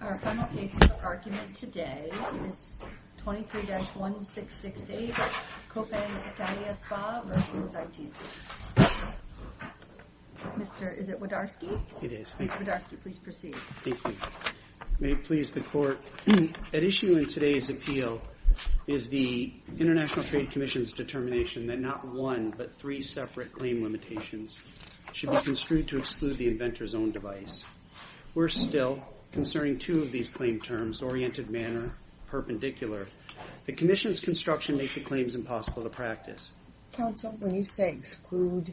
Our final case for argument today is 23-1668, Copan Italia Spa v. ITC. Mr., is it Wodarski? It is, thank you. Mr. Wodarski, please proceed. Thank you. May it please the Court, at issue in today's appeal is the International Trade Commission's determination that not one, but three separate claim limitations should be construed to exclude the inventor's own device. We're still concerning two of these claim terms, oriented manner, perpendicular. The Commission's construction makes the claims impossible to practice. Counsel, when you say exclude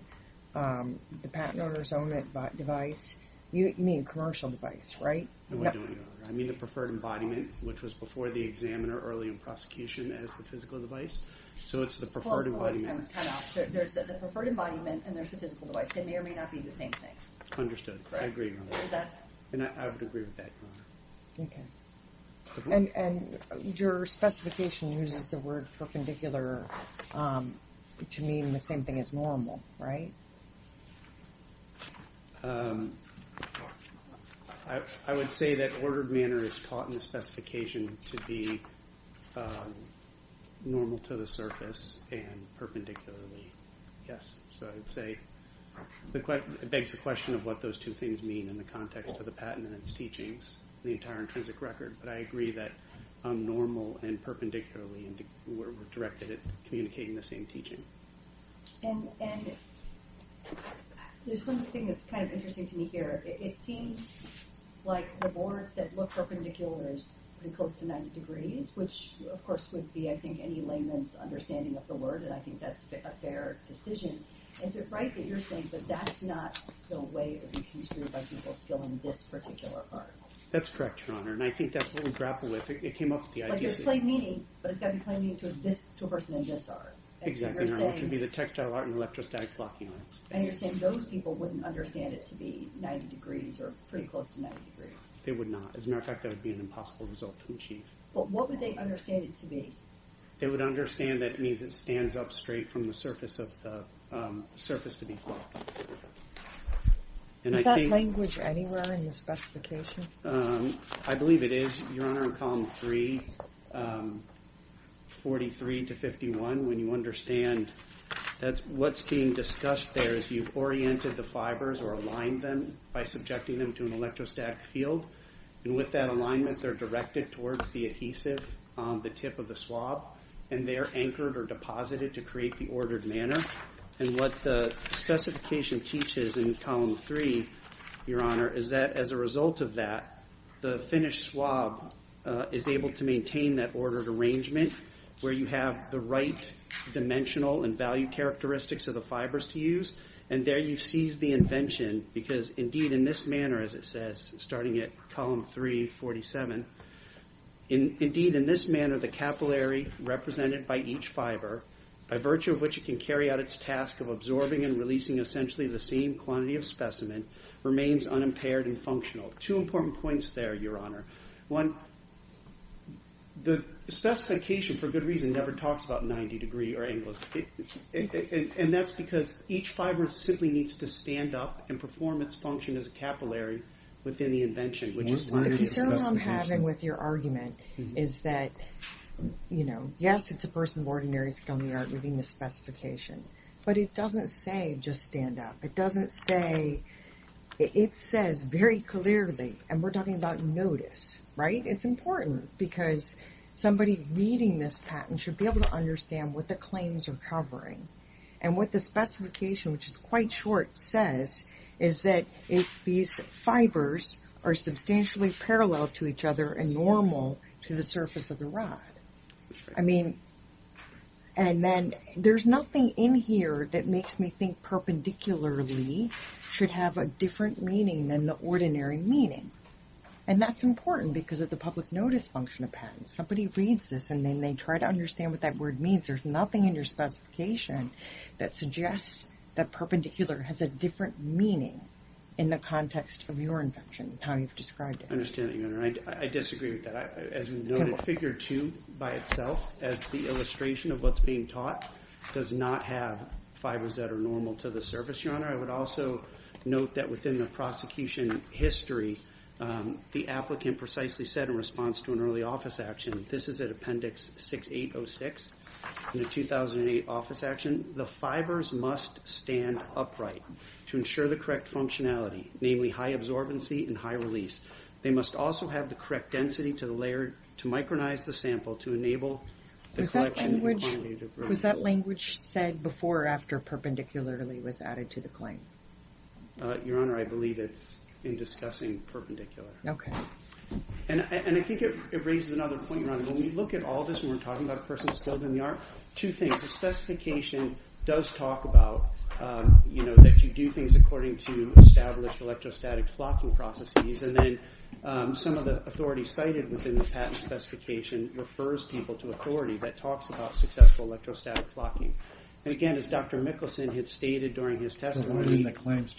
the patent owner's own device, you mean commercial device, right? No, I don't mean that. I mean the preferred embodiment, which was before the examiner early in prosecution as the physical device. So, it's the preferred embodiment. Well, hold on, time is cut off. There's the preferred embodiment and there's the physical device. They may or may not be the same thing. Understood. I agree with that. And I would agree with that, Your Honor. Okay. And your specification uses the word perpendicular to mean the same thing as normal, right? I would say that ordered manner is taught in the specification to be normal to the surface and perpendicularly, yes. So, I would say it begs the question of what those two things mean in the context of the patent and its teachings, the entire intrinsic record. But I agree that normal and perpendicularly were directed at communicating the same teaching. And there's one thing that's kind of interesting to me here. It seems like the board said look perpendicular is pretty close to 90 degrees, which of course would be, I think, any layman's understanding of the word. And I think that's a fair decision. Is it right that you're saying that that's not the way it would be construed by people still in this particular part? That's correct, Your Honor. And I think that's what we grapple with. It came up with the idea that... Like there's plain meaning, but it's got to be plain meaning to a person in this art. Exactly, Your Honor. Which would be the textile art and electrostatic clocking arts. And you're saying those people wouldn't understand it to be 90 degrees or pretty close to 90 degrees. They would not. As a matter of fact, that would be an impossible result to achieve. But what would they understand it to be? They would understand that it means it stands up straight from the surface to be clocked. Is that language anywhere in the specification? I believe it is, Your Honor, in column 3, 43 to 51. When you understand what's being discussed there is you've oriented the fibers or aligned them by subjecting them to an electrostatic field. And with that alignment they're directed towards the adhesive, the tip of the swab. And they're anchored or deposited to create the ordered manner. And what the specification teaches in column 3, Your Honor, is that as a result of that the finished swab is able to maintain that ordered arrangement where you have the right dimensional and value characteristics of the fibers to use. And there you seize the invention because indeed in this manner, as it says, starting at column 3, 47, indeed in this manner the capillary represented by each fiber, by virtue of which it can carry out its task of absorbing and releasing essentially the same quantity of specimen, remains unimpaired and functional. Two important points there, Your Honor. One, the specification, for good reason, never talks about 90 degree or angles. And that's because each fiber simply needs to stand up and perform its function as a capillary within the invention. The concern I'm having with your argument is that, you know, yes it's a person of ordinary skill in the art of reading the specification. But it doesn't say just stand up. It doesn't say, it says very clearly, and we're talking about notice, right? It's important because somebody reading this patent should be able to understand what the words are covering. And what the specification, which is quite short, says is that these fibers are substantially parallel to each other and normal to the surface of the rod. I mean, and then there's nothing in here that makes me think perpendicularly should have a different meaning than the ordinary meaning. And that's important because of the public notice function of patents. Somebody reads this and then they try to understand what that word means. There's nothing in your specification that suggests that perpendicular has a different meaning in the context of your invention, how you've described it. I understand that, Your Honor. I disagree with that. As we noted, figure two by itself, as the illustration of what's being taught, does not have fibers that are normal to the surface, Your Honor. I would also note that within the prosecution history, the applicant precisely said in response to an early office action, this is at Appendix 6806, in the 2008 office action, the fibers must stand upright to ensure the correct functionality, namely high absorbency and high release. They must also have the correct density to micronize the sample to enable the collection in a quantitative way. Was that language said before or after perpendicularly was added to the claim? Your Honor, I believe it's in discussing perpendicular. Okay. I think it raises another point, Your Honor. When we look at all this and we're talking about a person skilled in the art, two things. The specification does talk about that you do things according to established electrostatic clocking processes. Then some of the authority cited within the patent specification refers people to authority that talks about successful electrostatic clocking. Again, as Dr. Mickelson had stated during his testimony- I'm sorry, Your Honor. Why didn't the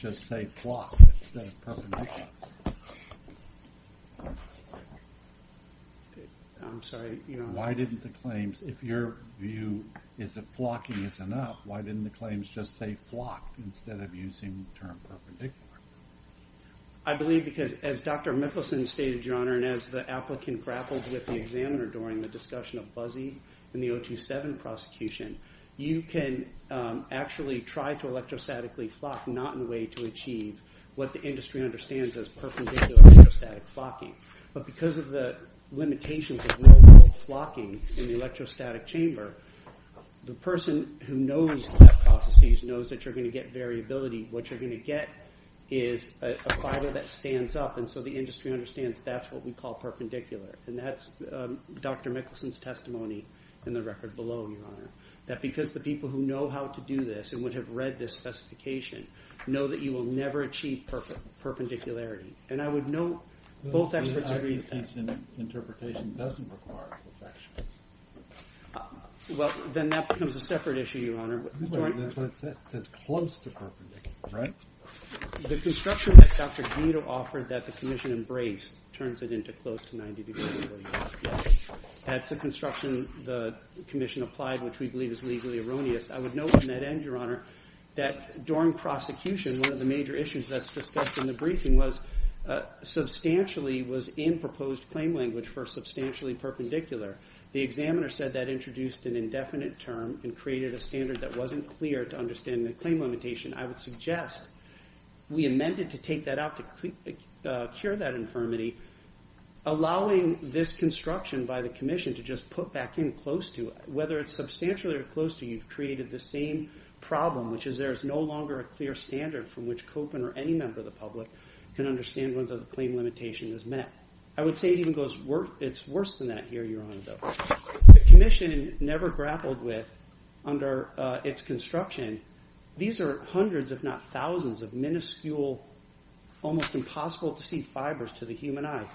claims, if your view is that clocking is enough, why didn't the claims just say clocked instead of using the term perpendicular? I believe because as Dr. Mickelson stated, Your Honor, and as the applicant grapples with the examiner during the discussion of Buzzy and the 027 prosecution, you can actually try to electrostatically clock not in a way to achieve what the industry understands as clocking, but because of the limitations of normal clocking in the electrostatic chamber, the person who knows the processes knows that you're going to get variability. What you're going to get is a fiber that stands up, and so the industry understands that's what we call perpendicular. That's Dr. Mickelson's testimony in the record below, Your Honor. That because the people who know how to do this and would have read this specification know that you will never achieve perpendicularity. And I would note both experts agreed to that. The interpretation doesn't require perplexion. Well, then that becomes a separate issue, Your Honor. That says close to perpendicular, right? The construction that Dr. Guido offered that the commission embraced turns it into close to 90 degree perpendicularity. That's a construction the commission applied, which we believe is legally erroneous. I would note in that end, Your Honor, that during prosecution, one of the major issues that's discussed in the briefing was substantially was in proposed claim language for substantially perpendicular. The examiner said that introduced an indefinite term and created a standard that wasn't clear to understand the claim limitation. I would suggest we amended to take that out to cure that infirmity, allowing this construction by the commission to just put back in close to it. Whether it's substantially or close to, you've created the same problem, which is there is no longer a clear standard from which Copen or any member of the public can understand whether the claim limitation is met. I would say it's worse than that here, Your Honor, though. The commission never grappled with, under its construction, these are hundreds, if not thousands of minuscule, almost impossible to see fibers to the human eye.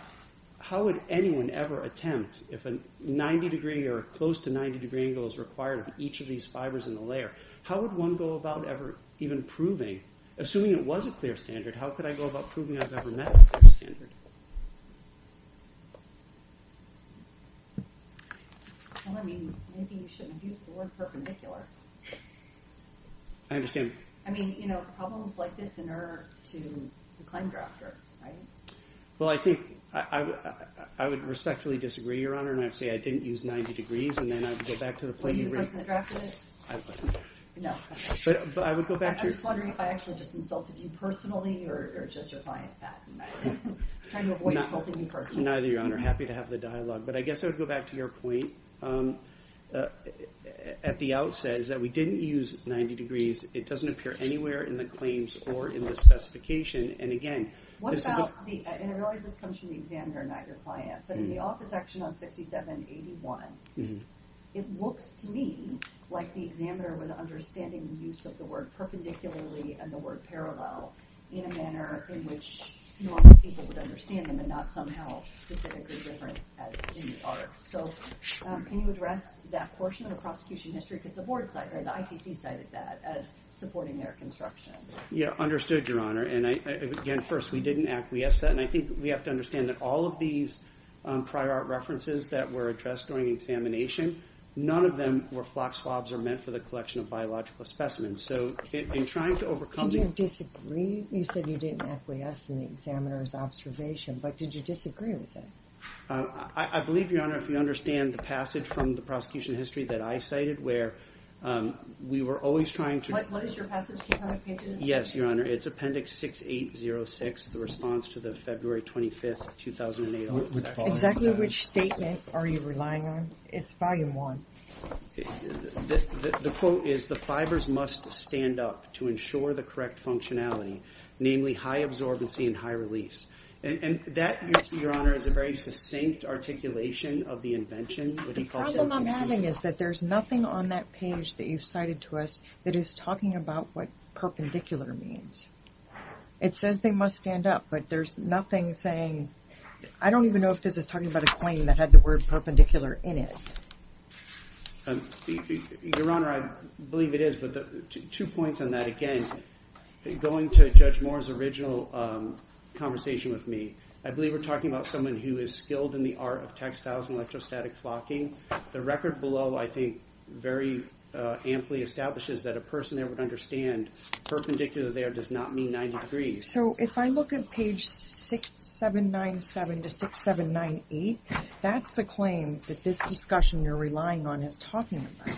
How would anyone ever attempt, if a 90 degree or close to 90 degree angle is required of each of these fibers in the layer, how would one go about ever even proving, assuming it was a clear standard, how could I go about proving I've ever met a clear standard? Well, I mean, maybe you shouldn't have used the word perpendicular. I understand. I mean, you know, problems like this inert to the claim drafter, right? Well, I think I would respectfully disagree, Your Honor, and I'd say I didn't use 90 degrees, and then I'd go back to the point you raised. Were you the person that drafted it? I wasn't. No. But I would go back to your- I'm just wondering if I actually just insulted you personally or just your client's back. I'm trying to avoid insulting you personally. Neither, Your Honor. Happy to have the dialogue, but I guess I would go back to your point at the outset is that we didn't use 90 degrees. It doesn't appear anywhere in the claims or in the specification, and again- What about the, and I realize this comes from the examiner and not your client, but in the office action on 6781, it looks to me like the examiner was understanding the use of the word perpendicularly and the word parallel in a manner in which normal people would understand them and not somehow specifically different as in the art. So can you address that portion of the prosecution history? Because the board side or the ITC cited that as supporting their construction. Yeah, understood, Your Honor, and again, first, we didn't acquiesce to that, and I think we have to understand that all of these prior art references that were addressed during examination, none of them were flock swabs or meant for the collection of biological specimens. So in trying to overcome the- Did you disagree? You said you didn't acquiesce in the examiner's observation, but did you disagree with it? I believe, Your Honor, if you understand the passage from the prosecution history that I cited where we were always trying to- Do you have any pages? Yes, Your Honor. It's appendix 6806, the response to the February 25th, 2008- Exactly which statement are you relying on? It's volume one. The quote is, the fibers must stand up to ensure the correct functionality, namely high absorbency and high release. And that, Your Honor, is a very succinct articulation of the invention. The problem I'm having is that there's nothing on that page that you've cited to us that is talking about what perpendicular means. It says they must stand up, but there's nothing saying- I don't even know if this is talking about a claim that had the word perpendicular in it. Your Honor, I believe it is, but two points on that. Again, going to Judge Moore's original conversation with me, I believe we're talking about someone who is skilled in the art of textiles and electrostatic flocking. The record below, I think, very amply establishes that a person there would understand perpendicular there does not mean 90 degrees. So if I look at page 6797 to 6798, that's the claim that this discussion you're relying on is talking about.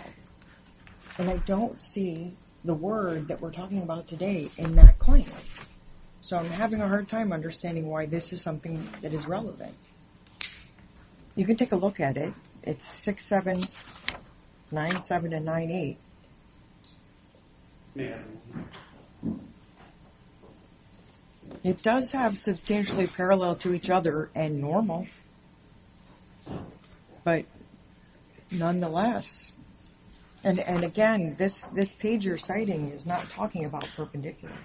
And I don't see the word that we're talking about today in that claim. So I'm having a hard time understanding why this is something that is relevant. You can take a look at it. It's 6797 to 98. It does have substantially parallel to each other and normal, but nonetheless. And again, this page you're citing is not talking about perpendicular.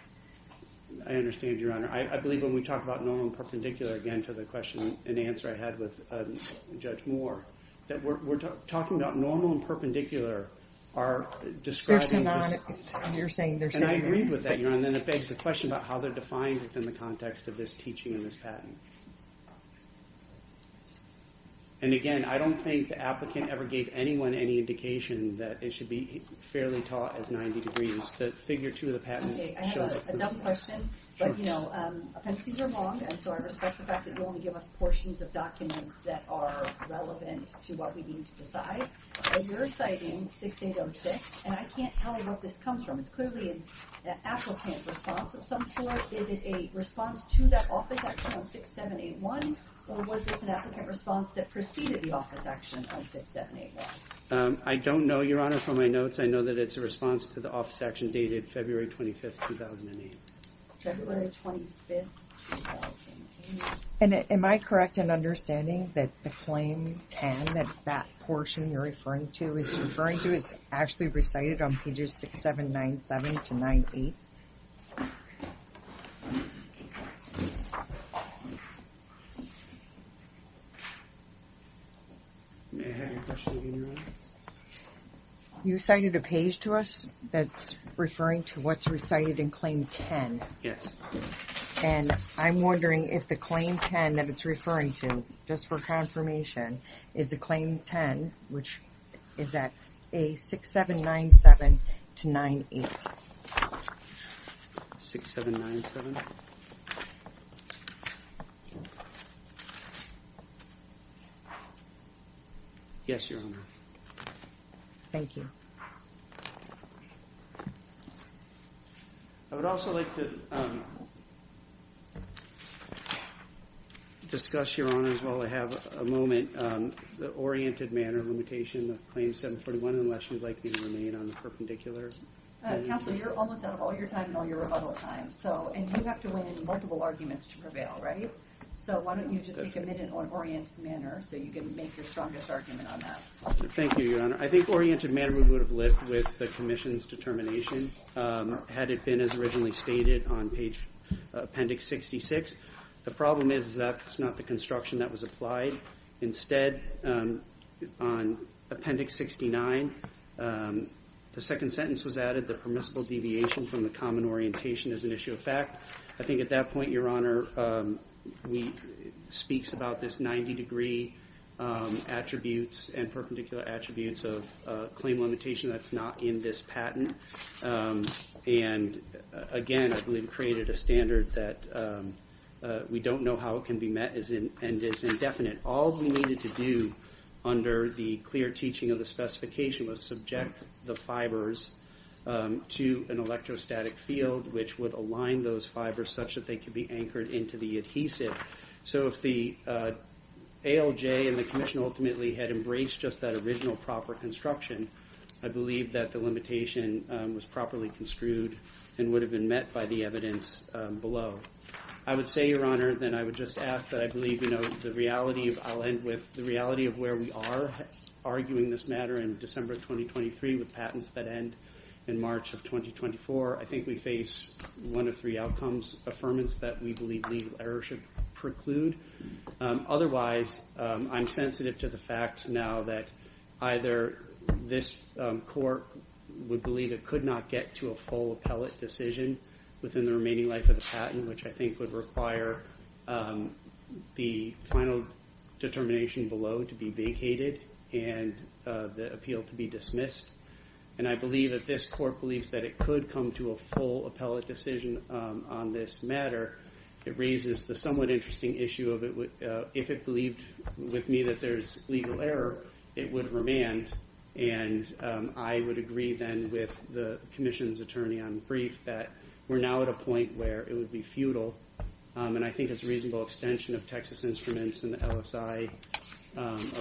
I understand, Your Honor. I believe when we talk about normal and perpendicular, again, to the question and answer I had with Judge Moore, that we're talking about normal and perpendicular are describing... They're synonymous. You're saying they're synonymous. And I agree with that, Your Honor. And then it begs the question about how they're defined within the context of this teaching and this patent. And again, I don't think the applicant ever gave anyone any indication that it should be fairly taught as 90 degrees. The figure two of the patent... Okay, I have a dumb question, but, you know, appendices are long, and so I respect the fact that you only give us portions of documents that are relevant to what we need to decide. You're citing 6806, and I can't tell you what this comes from. It's clearly an applicant response of some sort. Is it a response to that office action on 6781, or was this an applicant response that preceded the office action on 6781? I don't know, Your Honor, from my notes. I know that it's a response to the office action dated February 25th, 2008. February 25th, 2008. And am I correct in understanding that the claim 10, that that portion you're referring to is actually recited on pages 6797 to 98? You cited a page to us that's referring to what's recited in claim 10. Yes. And I'm wondering if the claim 10 that it's referring to, just for confirmation, is the claim 10, which is at 6797 to 98. 6797? 6797? Yes, Your Honor. Thank you. I would also like to discuss, Your Honor, as well. I have a moment. The oriented manner limitation of claim 741, unless you'd like me to remain on the perpendicular. Counsel, you're almost out of all your time and all your rebuttal time. And you have to win in multiple arguments to prevail, right? So why don't you just be committed on oriented manner so you can make your strongest argument on that. Thank you, Your Honor. I think oriented manner would have lived with the commission's determination had it been as originally stated on page appendix 66. The problem is that's not the construction that was applied. Instead, on appendix 69, the second sentence was added, the permissible deviation from the common orientation is an issue of fact. I think at that point, Your Honor, it speaks about this 90-degree attributes and perpendicular attributes of claim limitation that's not in this patent. And again, I believe it created a standard that we don't know how it can be met and is indefinite. All we needed to do under the clear teaching of the specification was subject the fibers to an electrostatic field which would align those fibers such that they could be anchored into the adhesive. So if the ALJ and the commission ultimately had embraced just that original proper construction, I believe that the limitation was properly construed and would have been met by the evidence below. I would say, Your Honor, that I would just ask that I believe, you know, the reality of where we are arguing this matter in December 2023 with patents that end in March of 2024, I think we face one of three outcomes, affirmance that we believe legal error should preclude. Otherwise, I'm sensitive to the fact now that either this court would believe it could not get to a full appellate decision within the remaining life of the patent, which I think would require the final determination below to be vacated and the appeal to be dismissed. And I believe that this court believes that it could come to a full appellate decision on this matter. It raises the somewhat interesting issue of if it believed with me that there's legal error, it would remand. And I would agree then with the commission's attorney on brief that we're now at a point where it would be futile, and I think as a reasonable extension of Texas Instruments and the LSI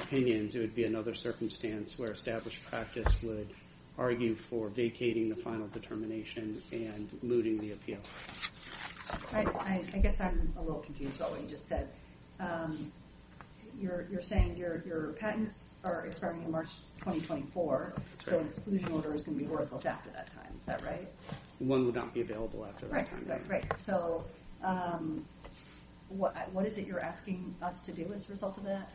opinions, it would be another circumstance where established practice would argue for vacating the final determination and looting the appeal. I guess I'm a little confused about what you just said. You're saying your patents are expiring in March 2024, so an exclusion order is going to be ordered both after that time. Is that right? One would not be available after that time. Right. So what is it you're asking us to do as a result of that?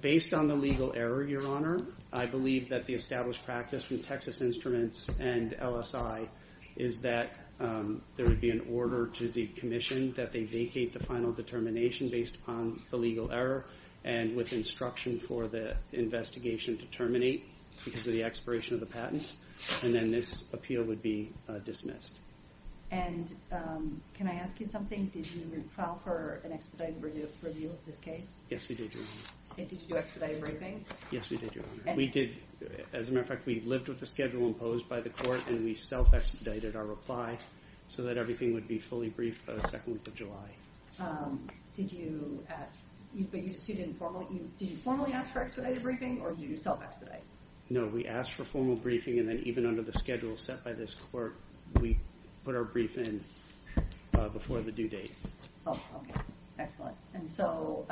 Based on the legal error, Your Honor, I believe that the established practice from Texas Instruments and LSI is that there would be an order to the commission that they vacate the final determination based upon the legal error and with instruction for the investigation to terminate because of the expiration of the patents. And then this appeal would be dismissed. And can I ask you something? Did you file for an expedited review of this case? Yes, we did, Your Honor. And did you do expedited briefing? Yes, we did, Your Honor. As a matter of fact, we lived with the schedule imposed by the court, and we self-expedited our reply so that everything would be fully briefed the second week of July. Did you formally ask for expedited briefing, or did you self-expedite? No, we asked for formal briefing, and then even under the schedule set by this court, we put our brief in before the due date. Oh, okay. Excellent. And so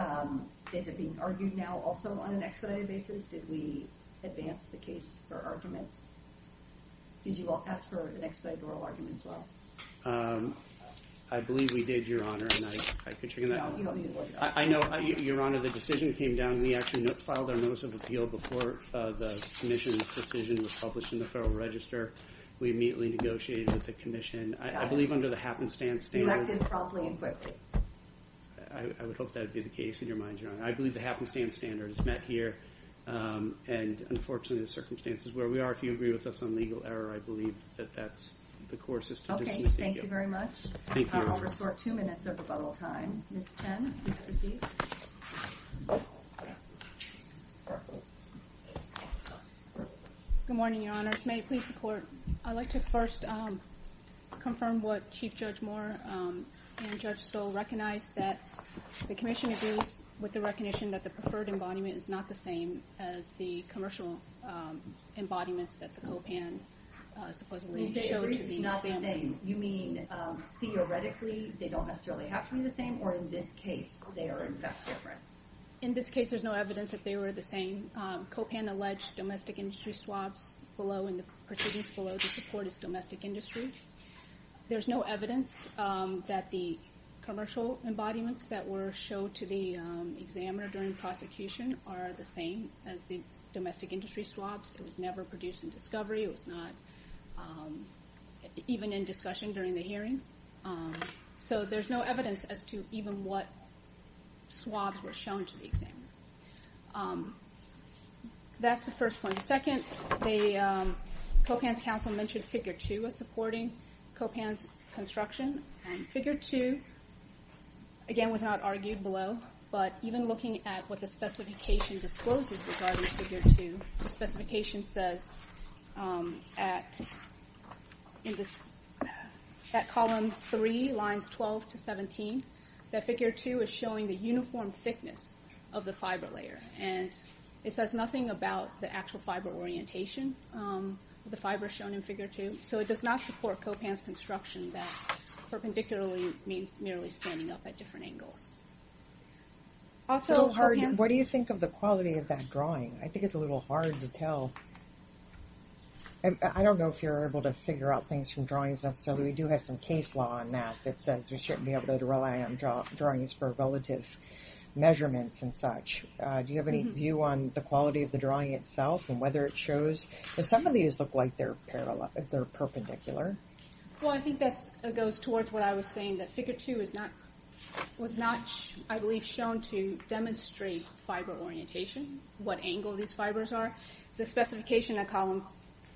is it being argued now also on an expedited basis? Did we advance the case for argument? Did you all ask for an expedited oral argument as well? I believe we did, Your Honor. I know, Your Honor, the decision came down. When we actually filed our notice of appeal before the commission's decision was published in the Federal Register, we immediately negotiated with the commission. I believe under the happenstance standard. You acted promptly and quickly. I would hope that would be the case, in your mind, Your Honor. I believe the happenstance standard is met here, and unfortunately the circumstances where we are, if you agree with us on legal error, I believe that that's the court's decision. Okay, thank you very much. Thank you. I'll restore two minutes of rebuttal time. Ms. Chen, please proceed. Good morning, Your Honors. May it please the Court, I'd like to first confirm what Chief Judge Moore and Judge Stoll recognized, that the commission agrees with the recognition that the preferred embodiment is not the same as the commercial embodiments that the co-pan supposedly showed to the museum. You say agrees it's not the same. You mean, theoretically, they don't necessarily have to be the same, or in this case, they are in fact different? In this case, there's no evidence that they were the same. Co-pan alleged domestic industry swabs below, and the proceedings below this report is domestic industry. There's no evidence that the commercial embodiments that were showed to the examiner during prosecution are the same as the domestic industry swabs. It was never produced in discovery. It was not even in discussion during the hearing. So there's no evidence as to even what swabs were shown to the examiner. That's the first point. Second, the co-pan's counsel mentioned figure two as supporting co-pan's construction, and figure two, again, was not argued below, but even looking at what the specification discloses regarding figure two, the specification says at column three, lines 12 to 17, that figure two is showing the uniform thickness of the fiber layer, and it says nothing about the actual fiber orientation, the fiber shown in figure two. So it does not support co-pan's construction that perpendicularly means merely standing up at different angles. So what do you think of the quality of that drawing? I think it's a little hard to tell. I don't know if you're able to figure out things from drawings necessarily. We do have some case law on that that says we shouldn't be able to rely on drawings for relative measurements and such. Do you have any view on the quality of the drawing itself and whether it shows, because some of these look like they're perpendicular. Well, I think that goes towards what I was saying, that figure two was not, I believe, shown to demonstrate fiber orientation, what angle these fibers are. The specification at column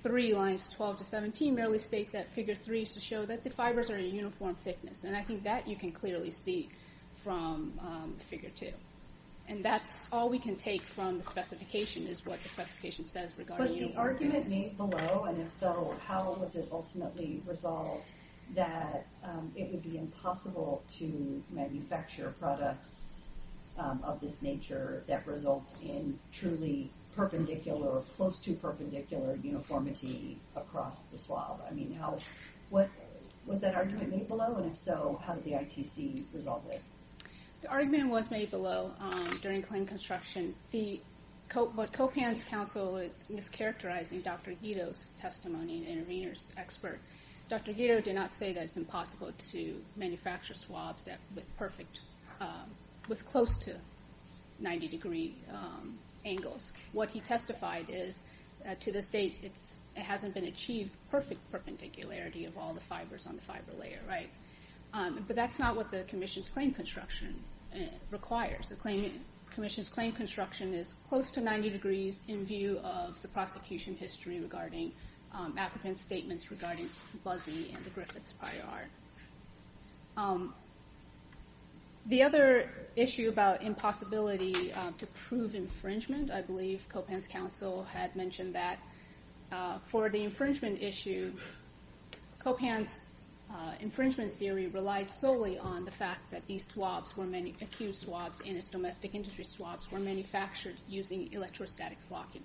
three, lines 12 to 17, merely states that figure three is to show that the fibers are a uniform thickness, and I think that you can clearly see from figure two. And that's all we can take from the specification is what the specification says regarding uniform thickness. Was the argument made below, and if so, how was it ultimately resolved that it would be impossible to manufacture products of this nature that result in truly perpendicular or close to perpendicular uniformity across the swab? Was that argument made below, and if so, how did the ITC resolve it? The argument was made below during clean construction. But COPAN's counsel is mischaracterizing Dr. Guido's testimony and intervener's expert. Dr. Guido did not say that it's impossible to manufacture swabs with close to 90-degree angles. What he testified is, to this date, it hasn't been achieved perfect perpendicularity of all the fibers on the fiber layer. But that's not what the commission's claim construction requires. The commission's claim construction is close to 90 degrees in view of the prosecution history regarding applicants' statements regarding Buzzy and the Griffiths prior art. The other issue about impossibility to prove infringement, I believe COPAN's counsel had mentioned that for the infringement issue, COPAN's infringement theory relied solely on the fact that these swabs were accused swabs, and its domestic industry swabs were manufactured using electrostatic flocking.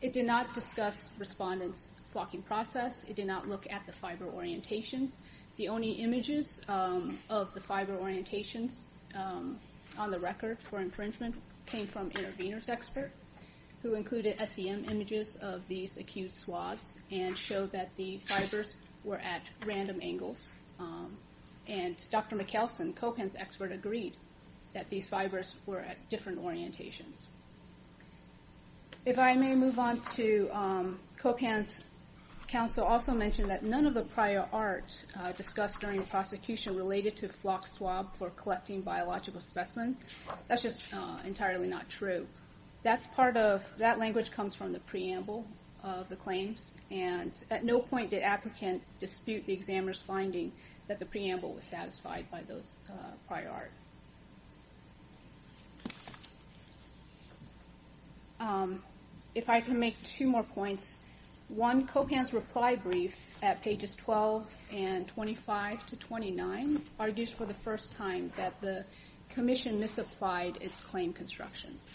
It did not discuss respondents' flocking process. It did not look at the fiber orientations. The only images of the fiber orientations on the record for infringement came from intervener's expert, who included SEM images of these accused swabs and showed that the fibers were at random angles. And Dr. Mikkelsen, COPAN's expert, agreed that these fibers were at different orientations. If I may move on to COPAN's counsel also mentioned that none of the prior art discussed during the prosecution related to flock swab for collecting biological specimens. That's just entirely not true. That language comes from the preamble of the claims, and at no point did applicants dispute the examiner's finding that the preamble was satisfied by those prior art. If I can make two more points. One, COPAN's reply brief at pages 12 and 25 to 29 argues for the first time that the commission misapplied its claim constructions.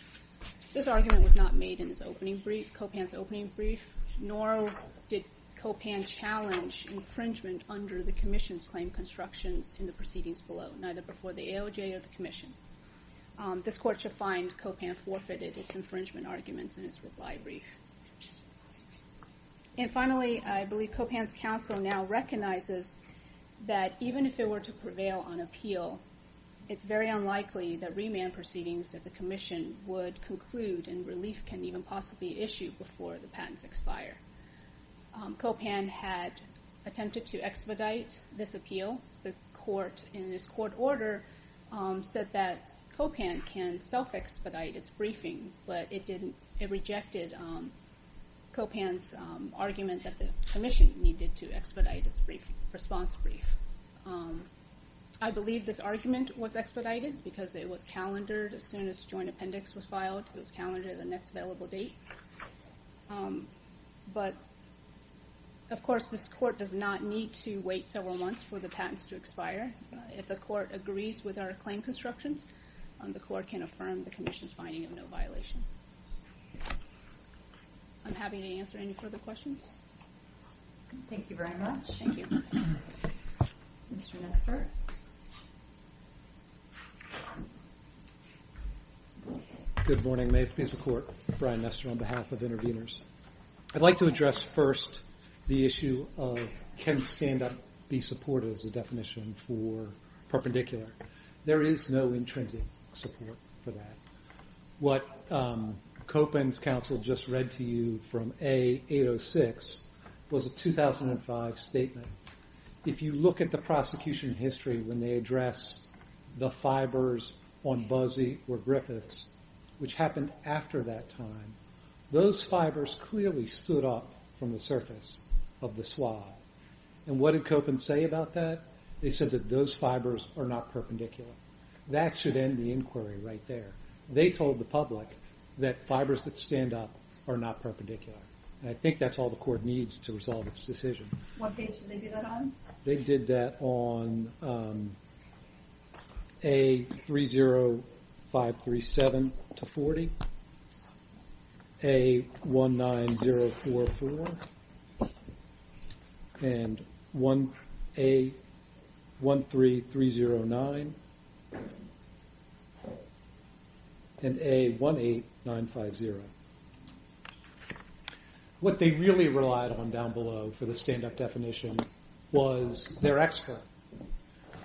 This argument was not made in COPAN's opening brief, nor did COPAN challenge infringement under the commission's claim constructions in the proceedings below, neither before the AOJ or the commission. This court should find COPAN forfeited its infringement arguments in its reply brief. And finally, I believe COPAN's counsel now recognizes that even if it were to prevail on appeal, it's very unlikely that remand proceedings that the commission would conclude and relief can even possibly issue before the patents expire. COPAN had attempted to expedite this appeal. The court, in this court order, said that COPAN can self-expedite its briefing, but it rejected COPAN's argument that the commission needed to expedite its response brief. I believe this argument was expedited because it was calendared as soon as joint appendix was filed. It was calendared at the next available date. But, of course, this court does not need to wait several months for the patents to expire. If the court agrees with our claim constructions, the court can affirm the commission's finding of no violation. I'm happy to answer any further questions. Thank you very much. Thank you. Mr. Nesbitt. Mr. Nesbitt. Good morning. May it please the court, Brian Nesbitt on behalf of Intervenors. I'd like to address first the issue of can stand-up be supported as a definition for perpendicular. There is no intrinsic support for that. What COPAN's counsel just read to you from A806 was a 2005 statement. If you look at the prosecution history when they address the fibers on Buzzy or Griffiths, which happened after that time, those fibers clearly stood up from the surface of the swab. And what did COPAN say about that? They said that those fibers are not perpendicular. That should end the inquiry right there. They told the public that fibers that stand up are not perpendicular. And I think that's all the court needs to resolve its decision. What page did they do that on? They did that on A30537-40, A19044, and A13309, and A18950. What they really relied on down below for the stand-up definition was their expert.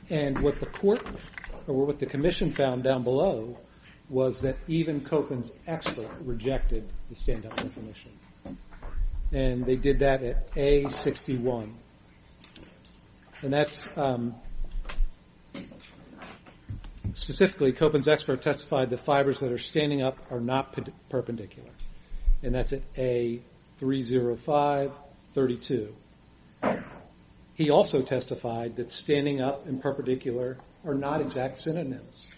And what the commission found down below was that even COPAN's expert rejected the stand-up definition. And they did that at A61. Specifically, COPAN's expert testified that fibers that are standing up are not perpendicular, and that's at A30532. He also testified that standing up and perpendicular are not exact synonyms,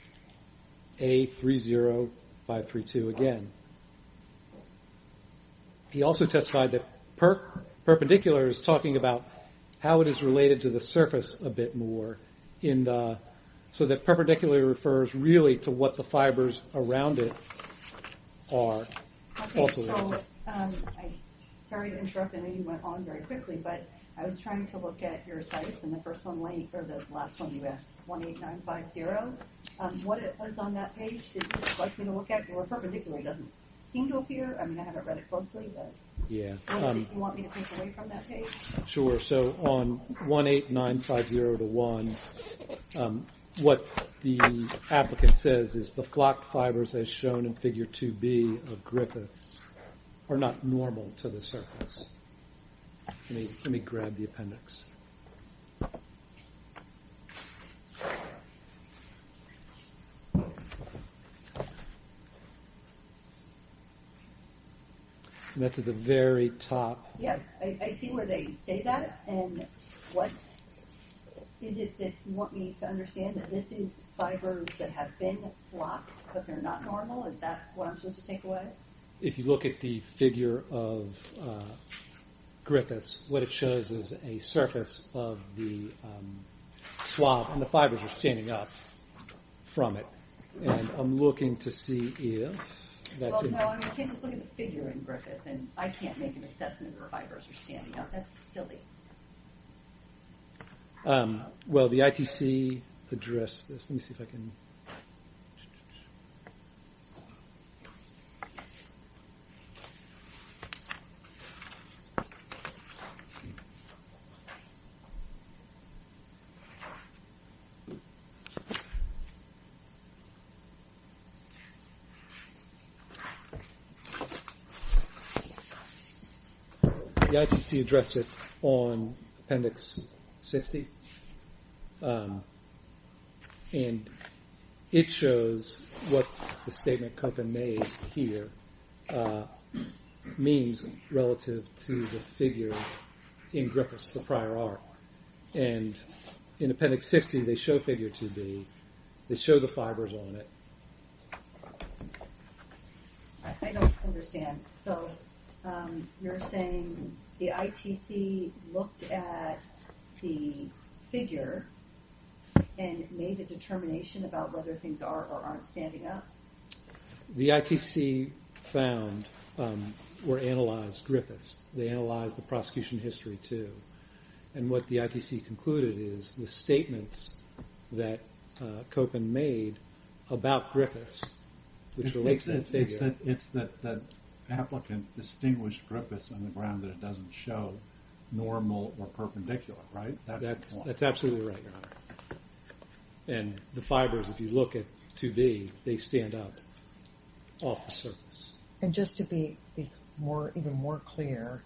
A30532 again. He also testified that perpendicular is talking about how it is related to the surface a bit more, so that perpendicular refers really to what the fibers around it are. Sorry to interrupt, I know you went on very quickly, but I was trying to look at your cites, and the last one you asked, A18950. What it says on that page, would you like me to look at? The word perpendicular doesn't seem to appear. I mean, I haven't read it closely, but would you want me to take away from that page? Sure, so on A18950-1, what the applicant says is the flocked fibers as shown in figure 2B of Griffiths are not normal to the surface. Let me grab the appendix. And that's at the very top. Yes, I see where they say that, and what is it that you want me to understand? That this is fibers that have been flocked, but they're not normal? Is that what I'm supposed to take away? If you look at the figure of Griffiths, what it shows is a surface of the swab, and the fibers are standing up from it. And I'm looking to see if that's it. Well, no, I can't just look at the figure in Griffiths, and I can't make an assessment that the fibers are standing up. That's silly. Well, the ITC addressed this. Let me see if I can... The ITC addressed it on appendix 60, and it shows what the statement Koeppen made here means relative to the figure in Griffiths, the prior art. And in appendix 60, they show figure 2B. They show the fibers on it. I don't understand. So you're saying the ITC looked at the figure and made a determination about whether things are or aren't standing up? The ITC found or analyzed Griffiths. They analyzed the prosecution history, too. And what the ITC concluded is the statements that Koeppen made about Griffiths, It's that applicant distinguished Griffiths on the ground that it doesn't show normal or perpendicular, right? That's absolutely right, Your Honor. And the fibers, if you look at 2B, they stand up off the surface. And just to be even more clear,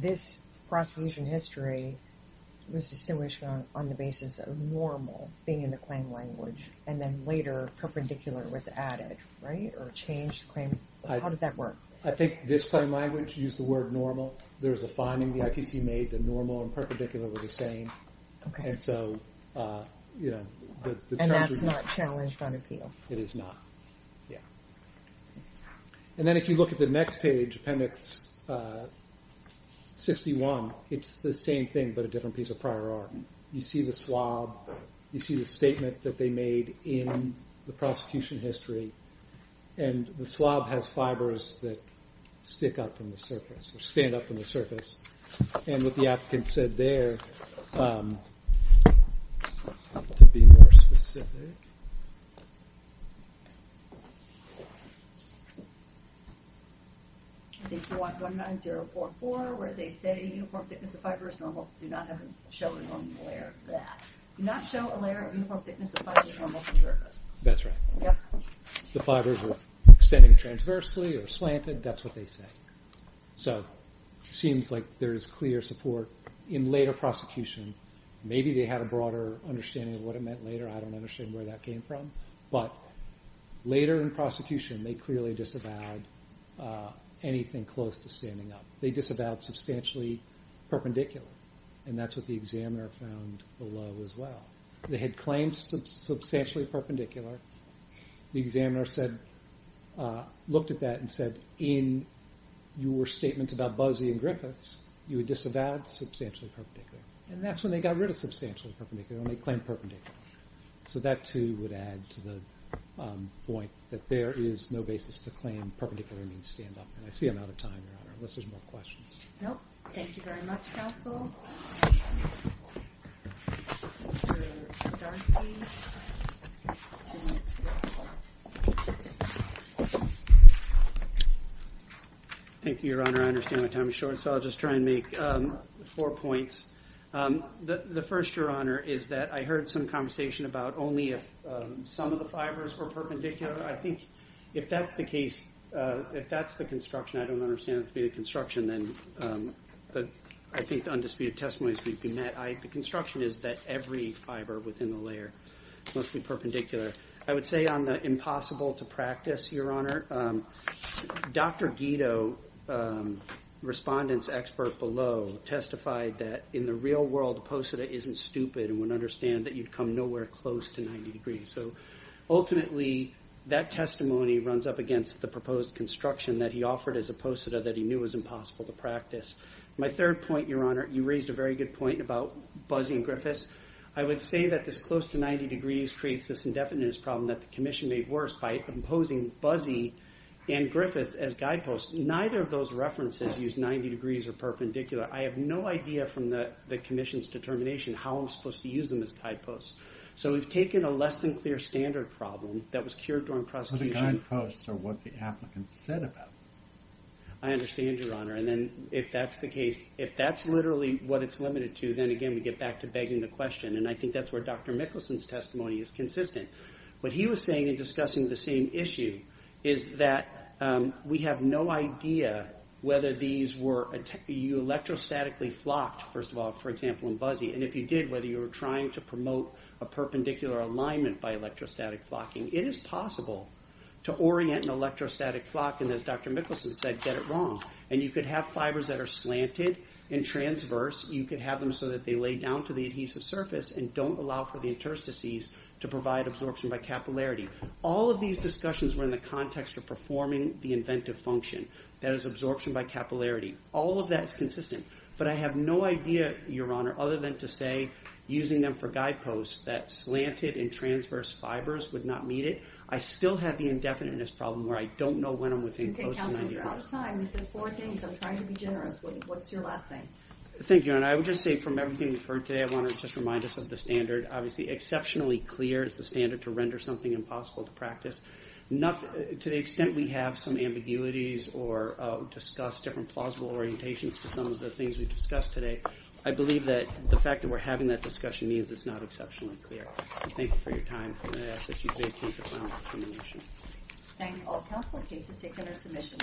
this prosecution history was distinguished on the basis of normal being in the claim language, and then later perpendicular was added, right, or changed the claim. How did that work? I think this claim language used the word normal. There was a finding the ITC made that normal and perpendicular were the same. And that's not challenged on appeal? It is not, yeah. And then if you look at the next page, appendix 61, it's the same thing but a different piece of prior art. You see the swab. You see the statement that they made in the prosecution history. And the swab has fibers that stick up from the surface or stand up from the surface. And what the applicant said there, to be more specific. I think you want 19044 where they say uniform thickness of fibers, normal, do not show a normal layer of that. Do not show a layer of uniform thickness of fibers, normal from the surface. That's right. Yep. The fibers were extending transversely or slanted. That's what they say. So it seems like there is clear support in later prosecution. Maybe they had a broader understanding of what it meant later. I don't understand where that came from. But later in prosecution, they clearly disavowed anything close to standing up. They disavowed substantially perpendicular. And that's what the examiner found below as well. They had claimed substantially perpendicular. The examiner looked at that and said, in your statements about Buzzy and Griffiths, you had disavowed substantially perpendicular. And that's when they got rid of substantially perpendicular, when they claimed perpendicular. So that, too, would add to the point that there is no basis to claim perpendicular means stand up. And I see I'm out of time, Your Honor, unless there's more questions. Nope. Thank you very much, Counsel. Thank you, Your Honor. I understand my time is short, so I'll just try and make four points. The first, Your Honor, is that I heard some conversation about only if some of the fibers were perpendicular. I think if that's the case, if that's the construction, I don't understand it to be the construction, then I think the undisputed testimony is we've been met. The construction is that every fiber within the layer must be perpendicular. I would say on the impossible to practice, Your Honor, Dr. Guido, respondent's expert below, testified that in the real world, posita isn't stupid and would understand that you'd come nowhere close to 90 degrees. So ultimately, that testimony runs up against the proposed construction that he offered as a posita that he knew was impossible to practice. My third point, Your Honor, you raised a very good point about buzzing Griffiths. I would say that this close to 90 degrees creates this indefinite problem that the commission made worse by imposing buzzy and Griffiths as guideposts. Neither of those references use 90 degrees or perpendicular. I have no idea from the commission's determination how I'm supposed to use them as guideposts. So we've taken a less than clear standard problem that was cured during prosecution. So the guideposts are what the applicant said about them. I understand, Your Honor, and then if that's the case, if that's literally what it's limited to, then again, we get back to begging the question, and I think that's where Dr. Mickelson's testimony is consistent. What he was saying in discussing the same issue is that we have no idea whether these were electrostatically flocked, first of all, for example, in buzzy, and if you did, whether you were trying to promote a perpendicular alignment by electrostatic flocking. It is possible to orient an electrostatic flock, and as Dr. Mickelson said, get it wrong. And you could have fibers that are slanted and transverse. You could have them so that they lay down to the adhesive surface and don't allow for the interstices to provide absorption by capillarity. All of these discussions were in the context of performing the inventive function. That is absorption by capillarity. All of that is consistent. But I have no idea, Your Honor, other than to say using them for guideposts that slanted and transverse fibers would not meet it. I still have the indefiniteness problem where I don't know when I'm within close to 90%. You're out of time. You said four things. I'm trying to be generous. What's your last thing? Thank you, Your Honor. I would just say from everything we've heard today, I want to just remind us of the standard. Obviously, exceptionally clear is the standard to render something impossible to practice. To the extent we have some ambiguities or discuss different plausible orientations to some of the things we've discussed today, I believe that the fact that we're having that discussion means it's not exceptionally clear. Thank you for your time, and I ask that you today take the final determination. Thank you. All council cases taken are submissions.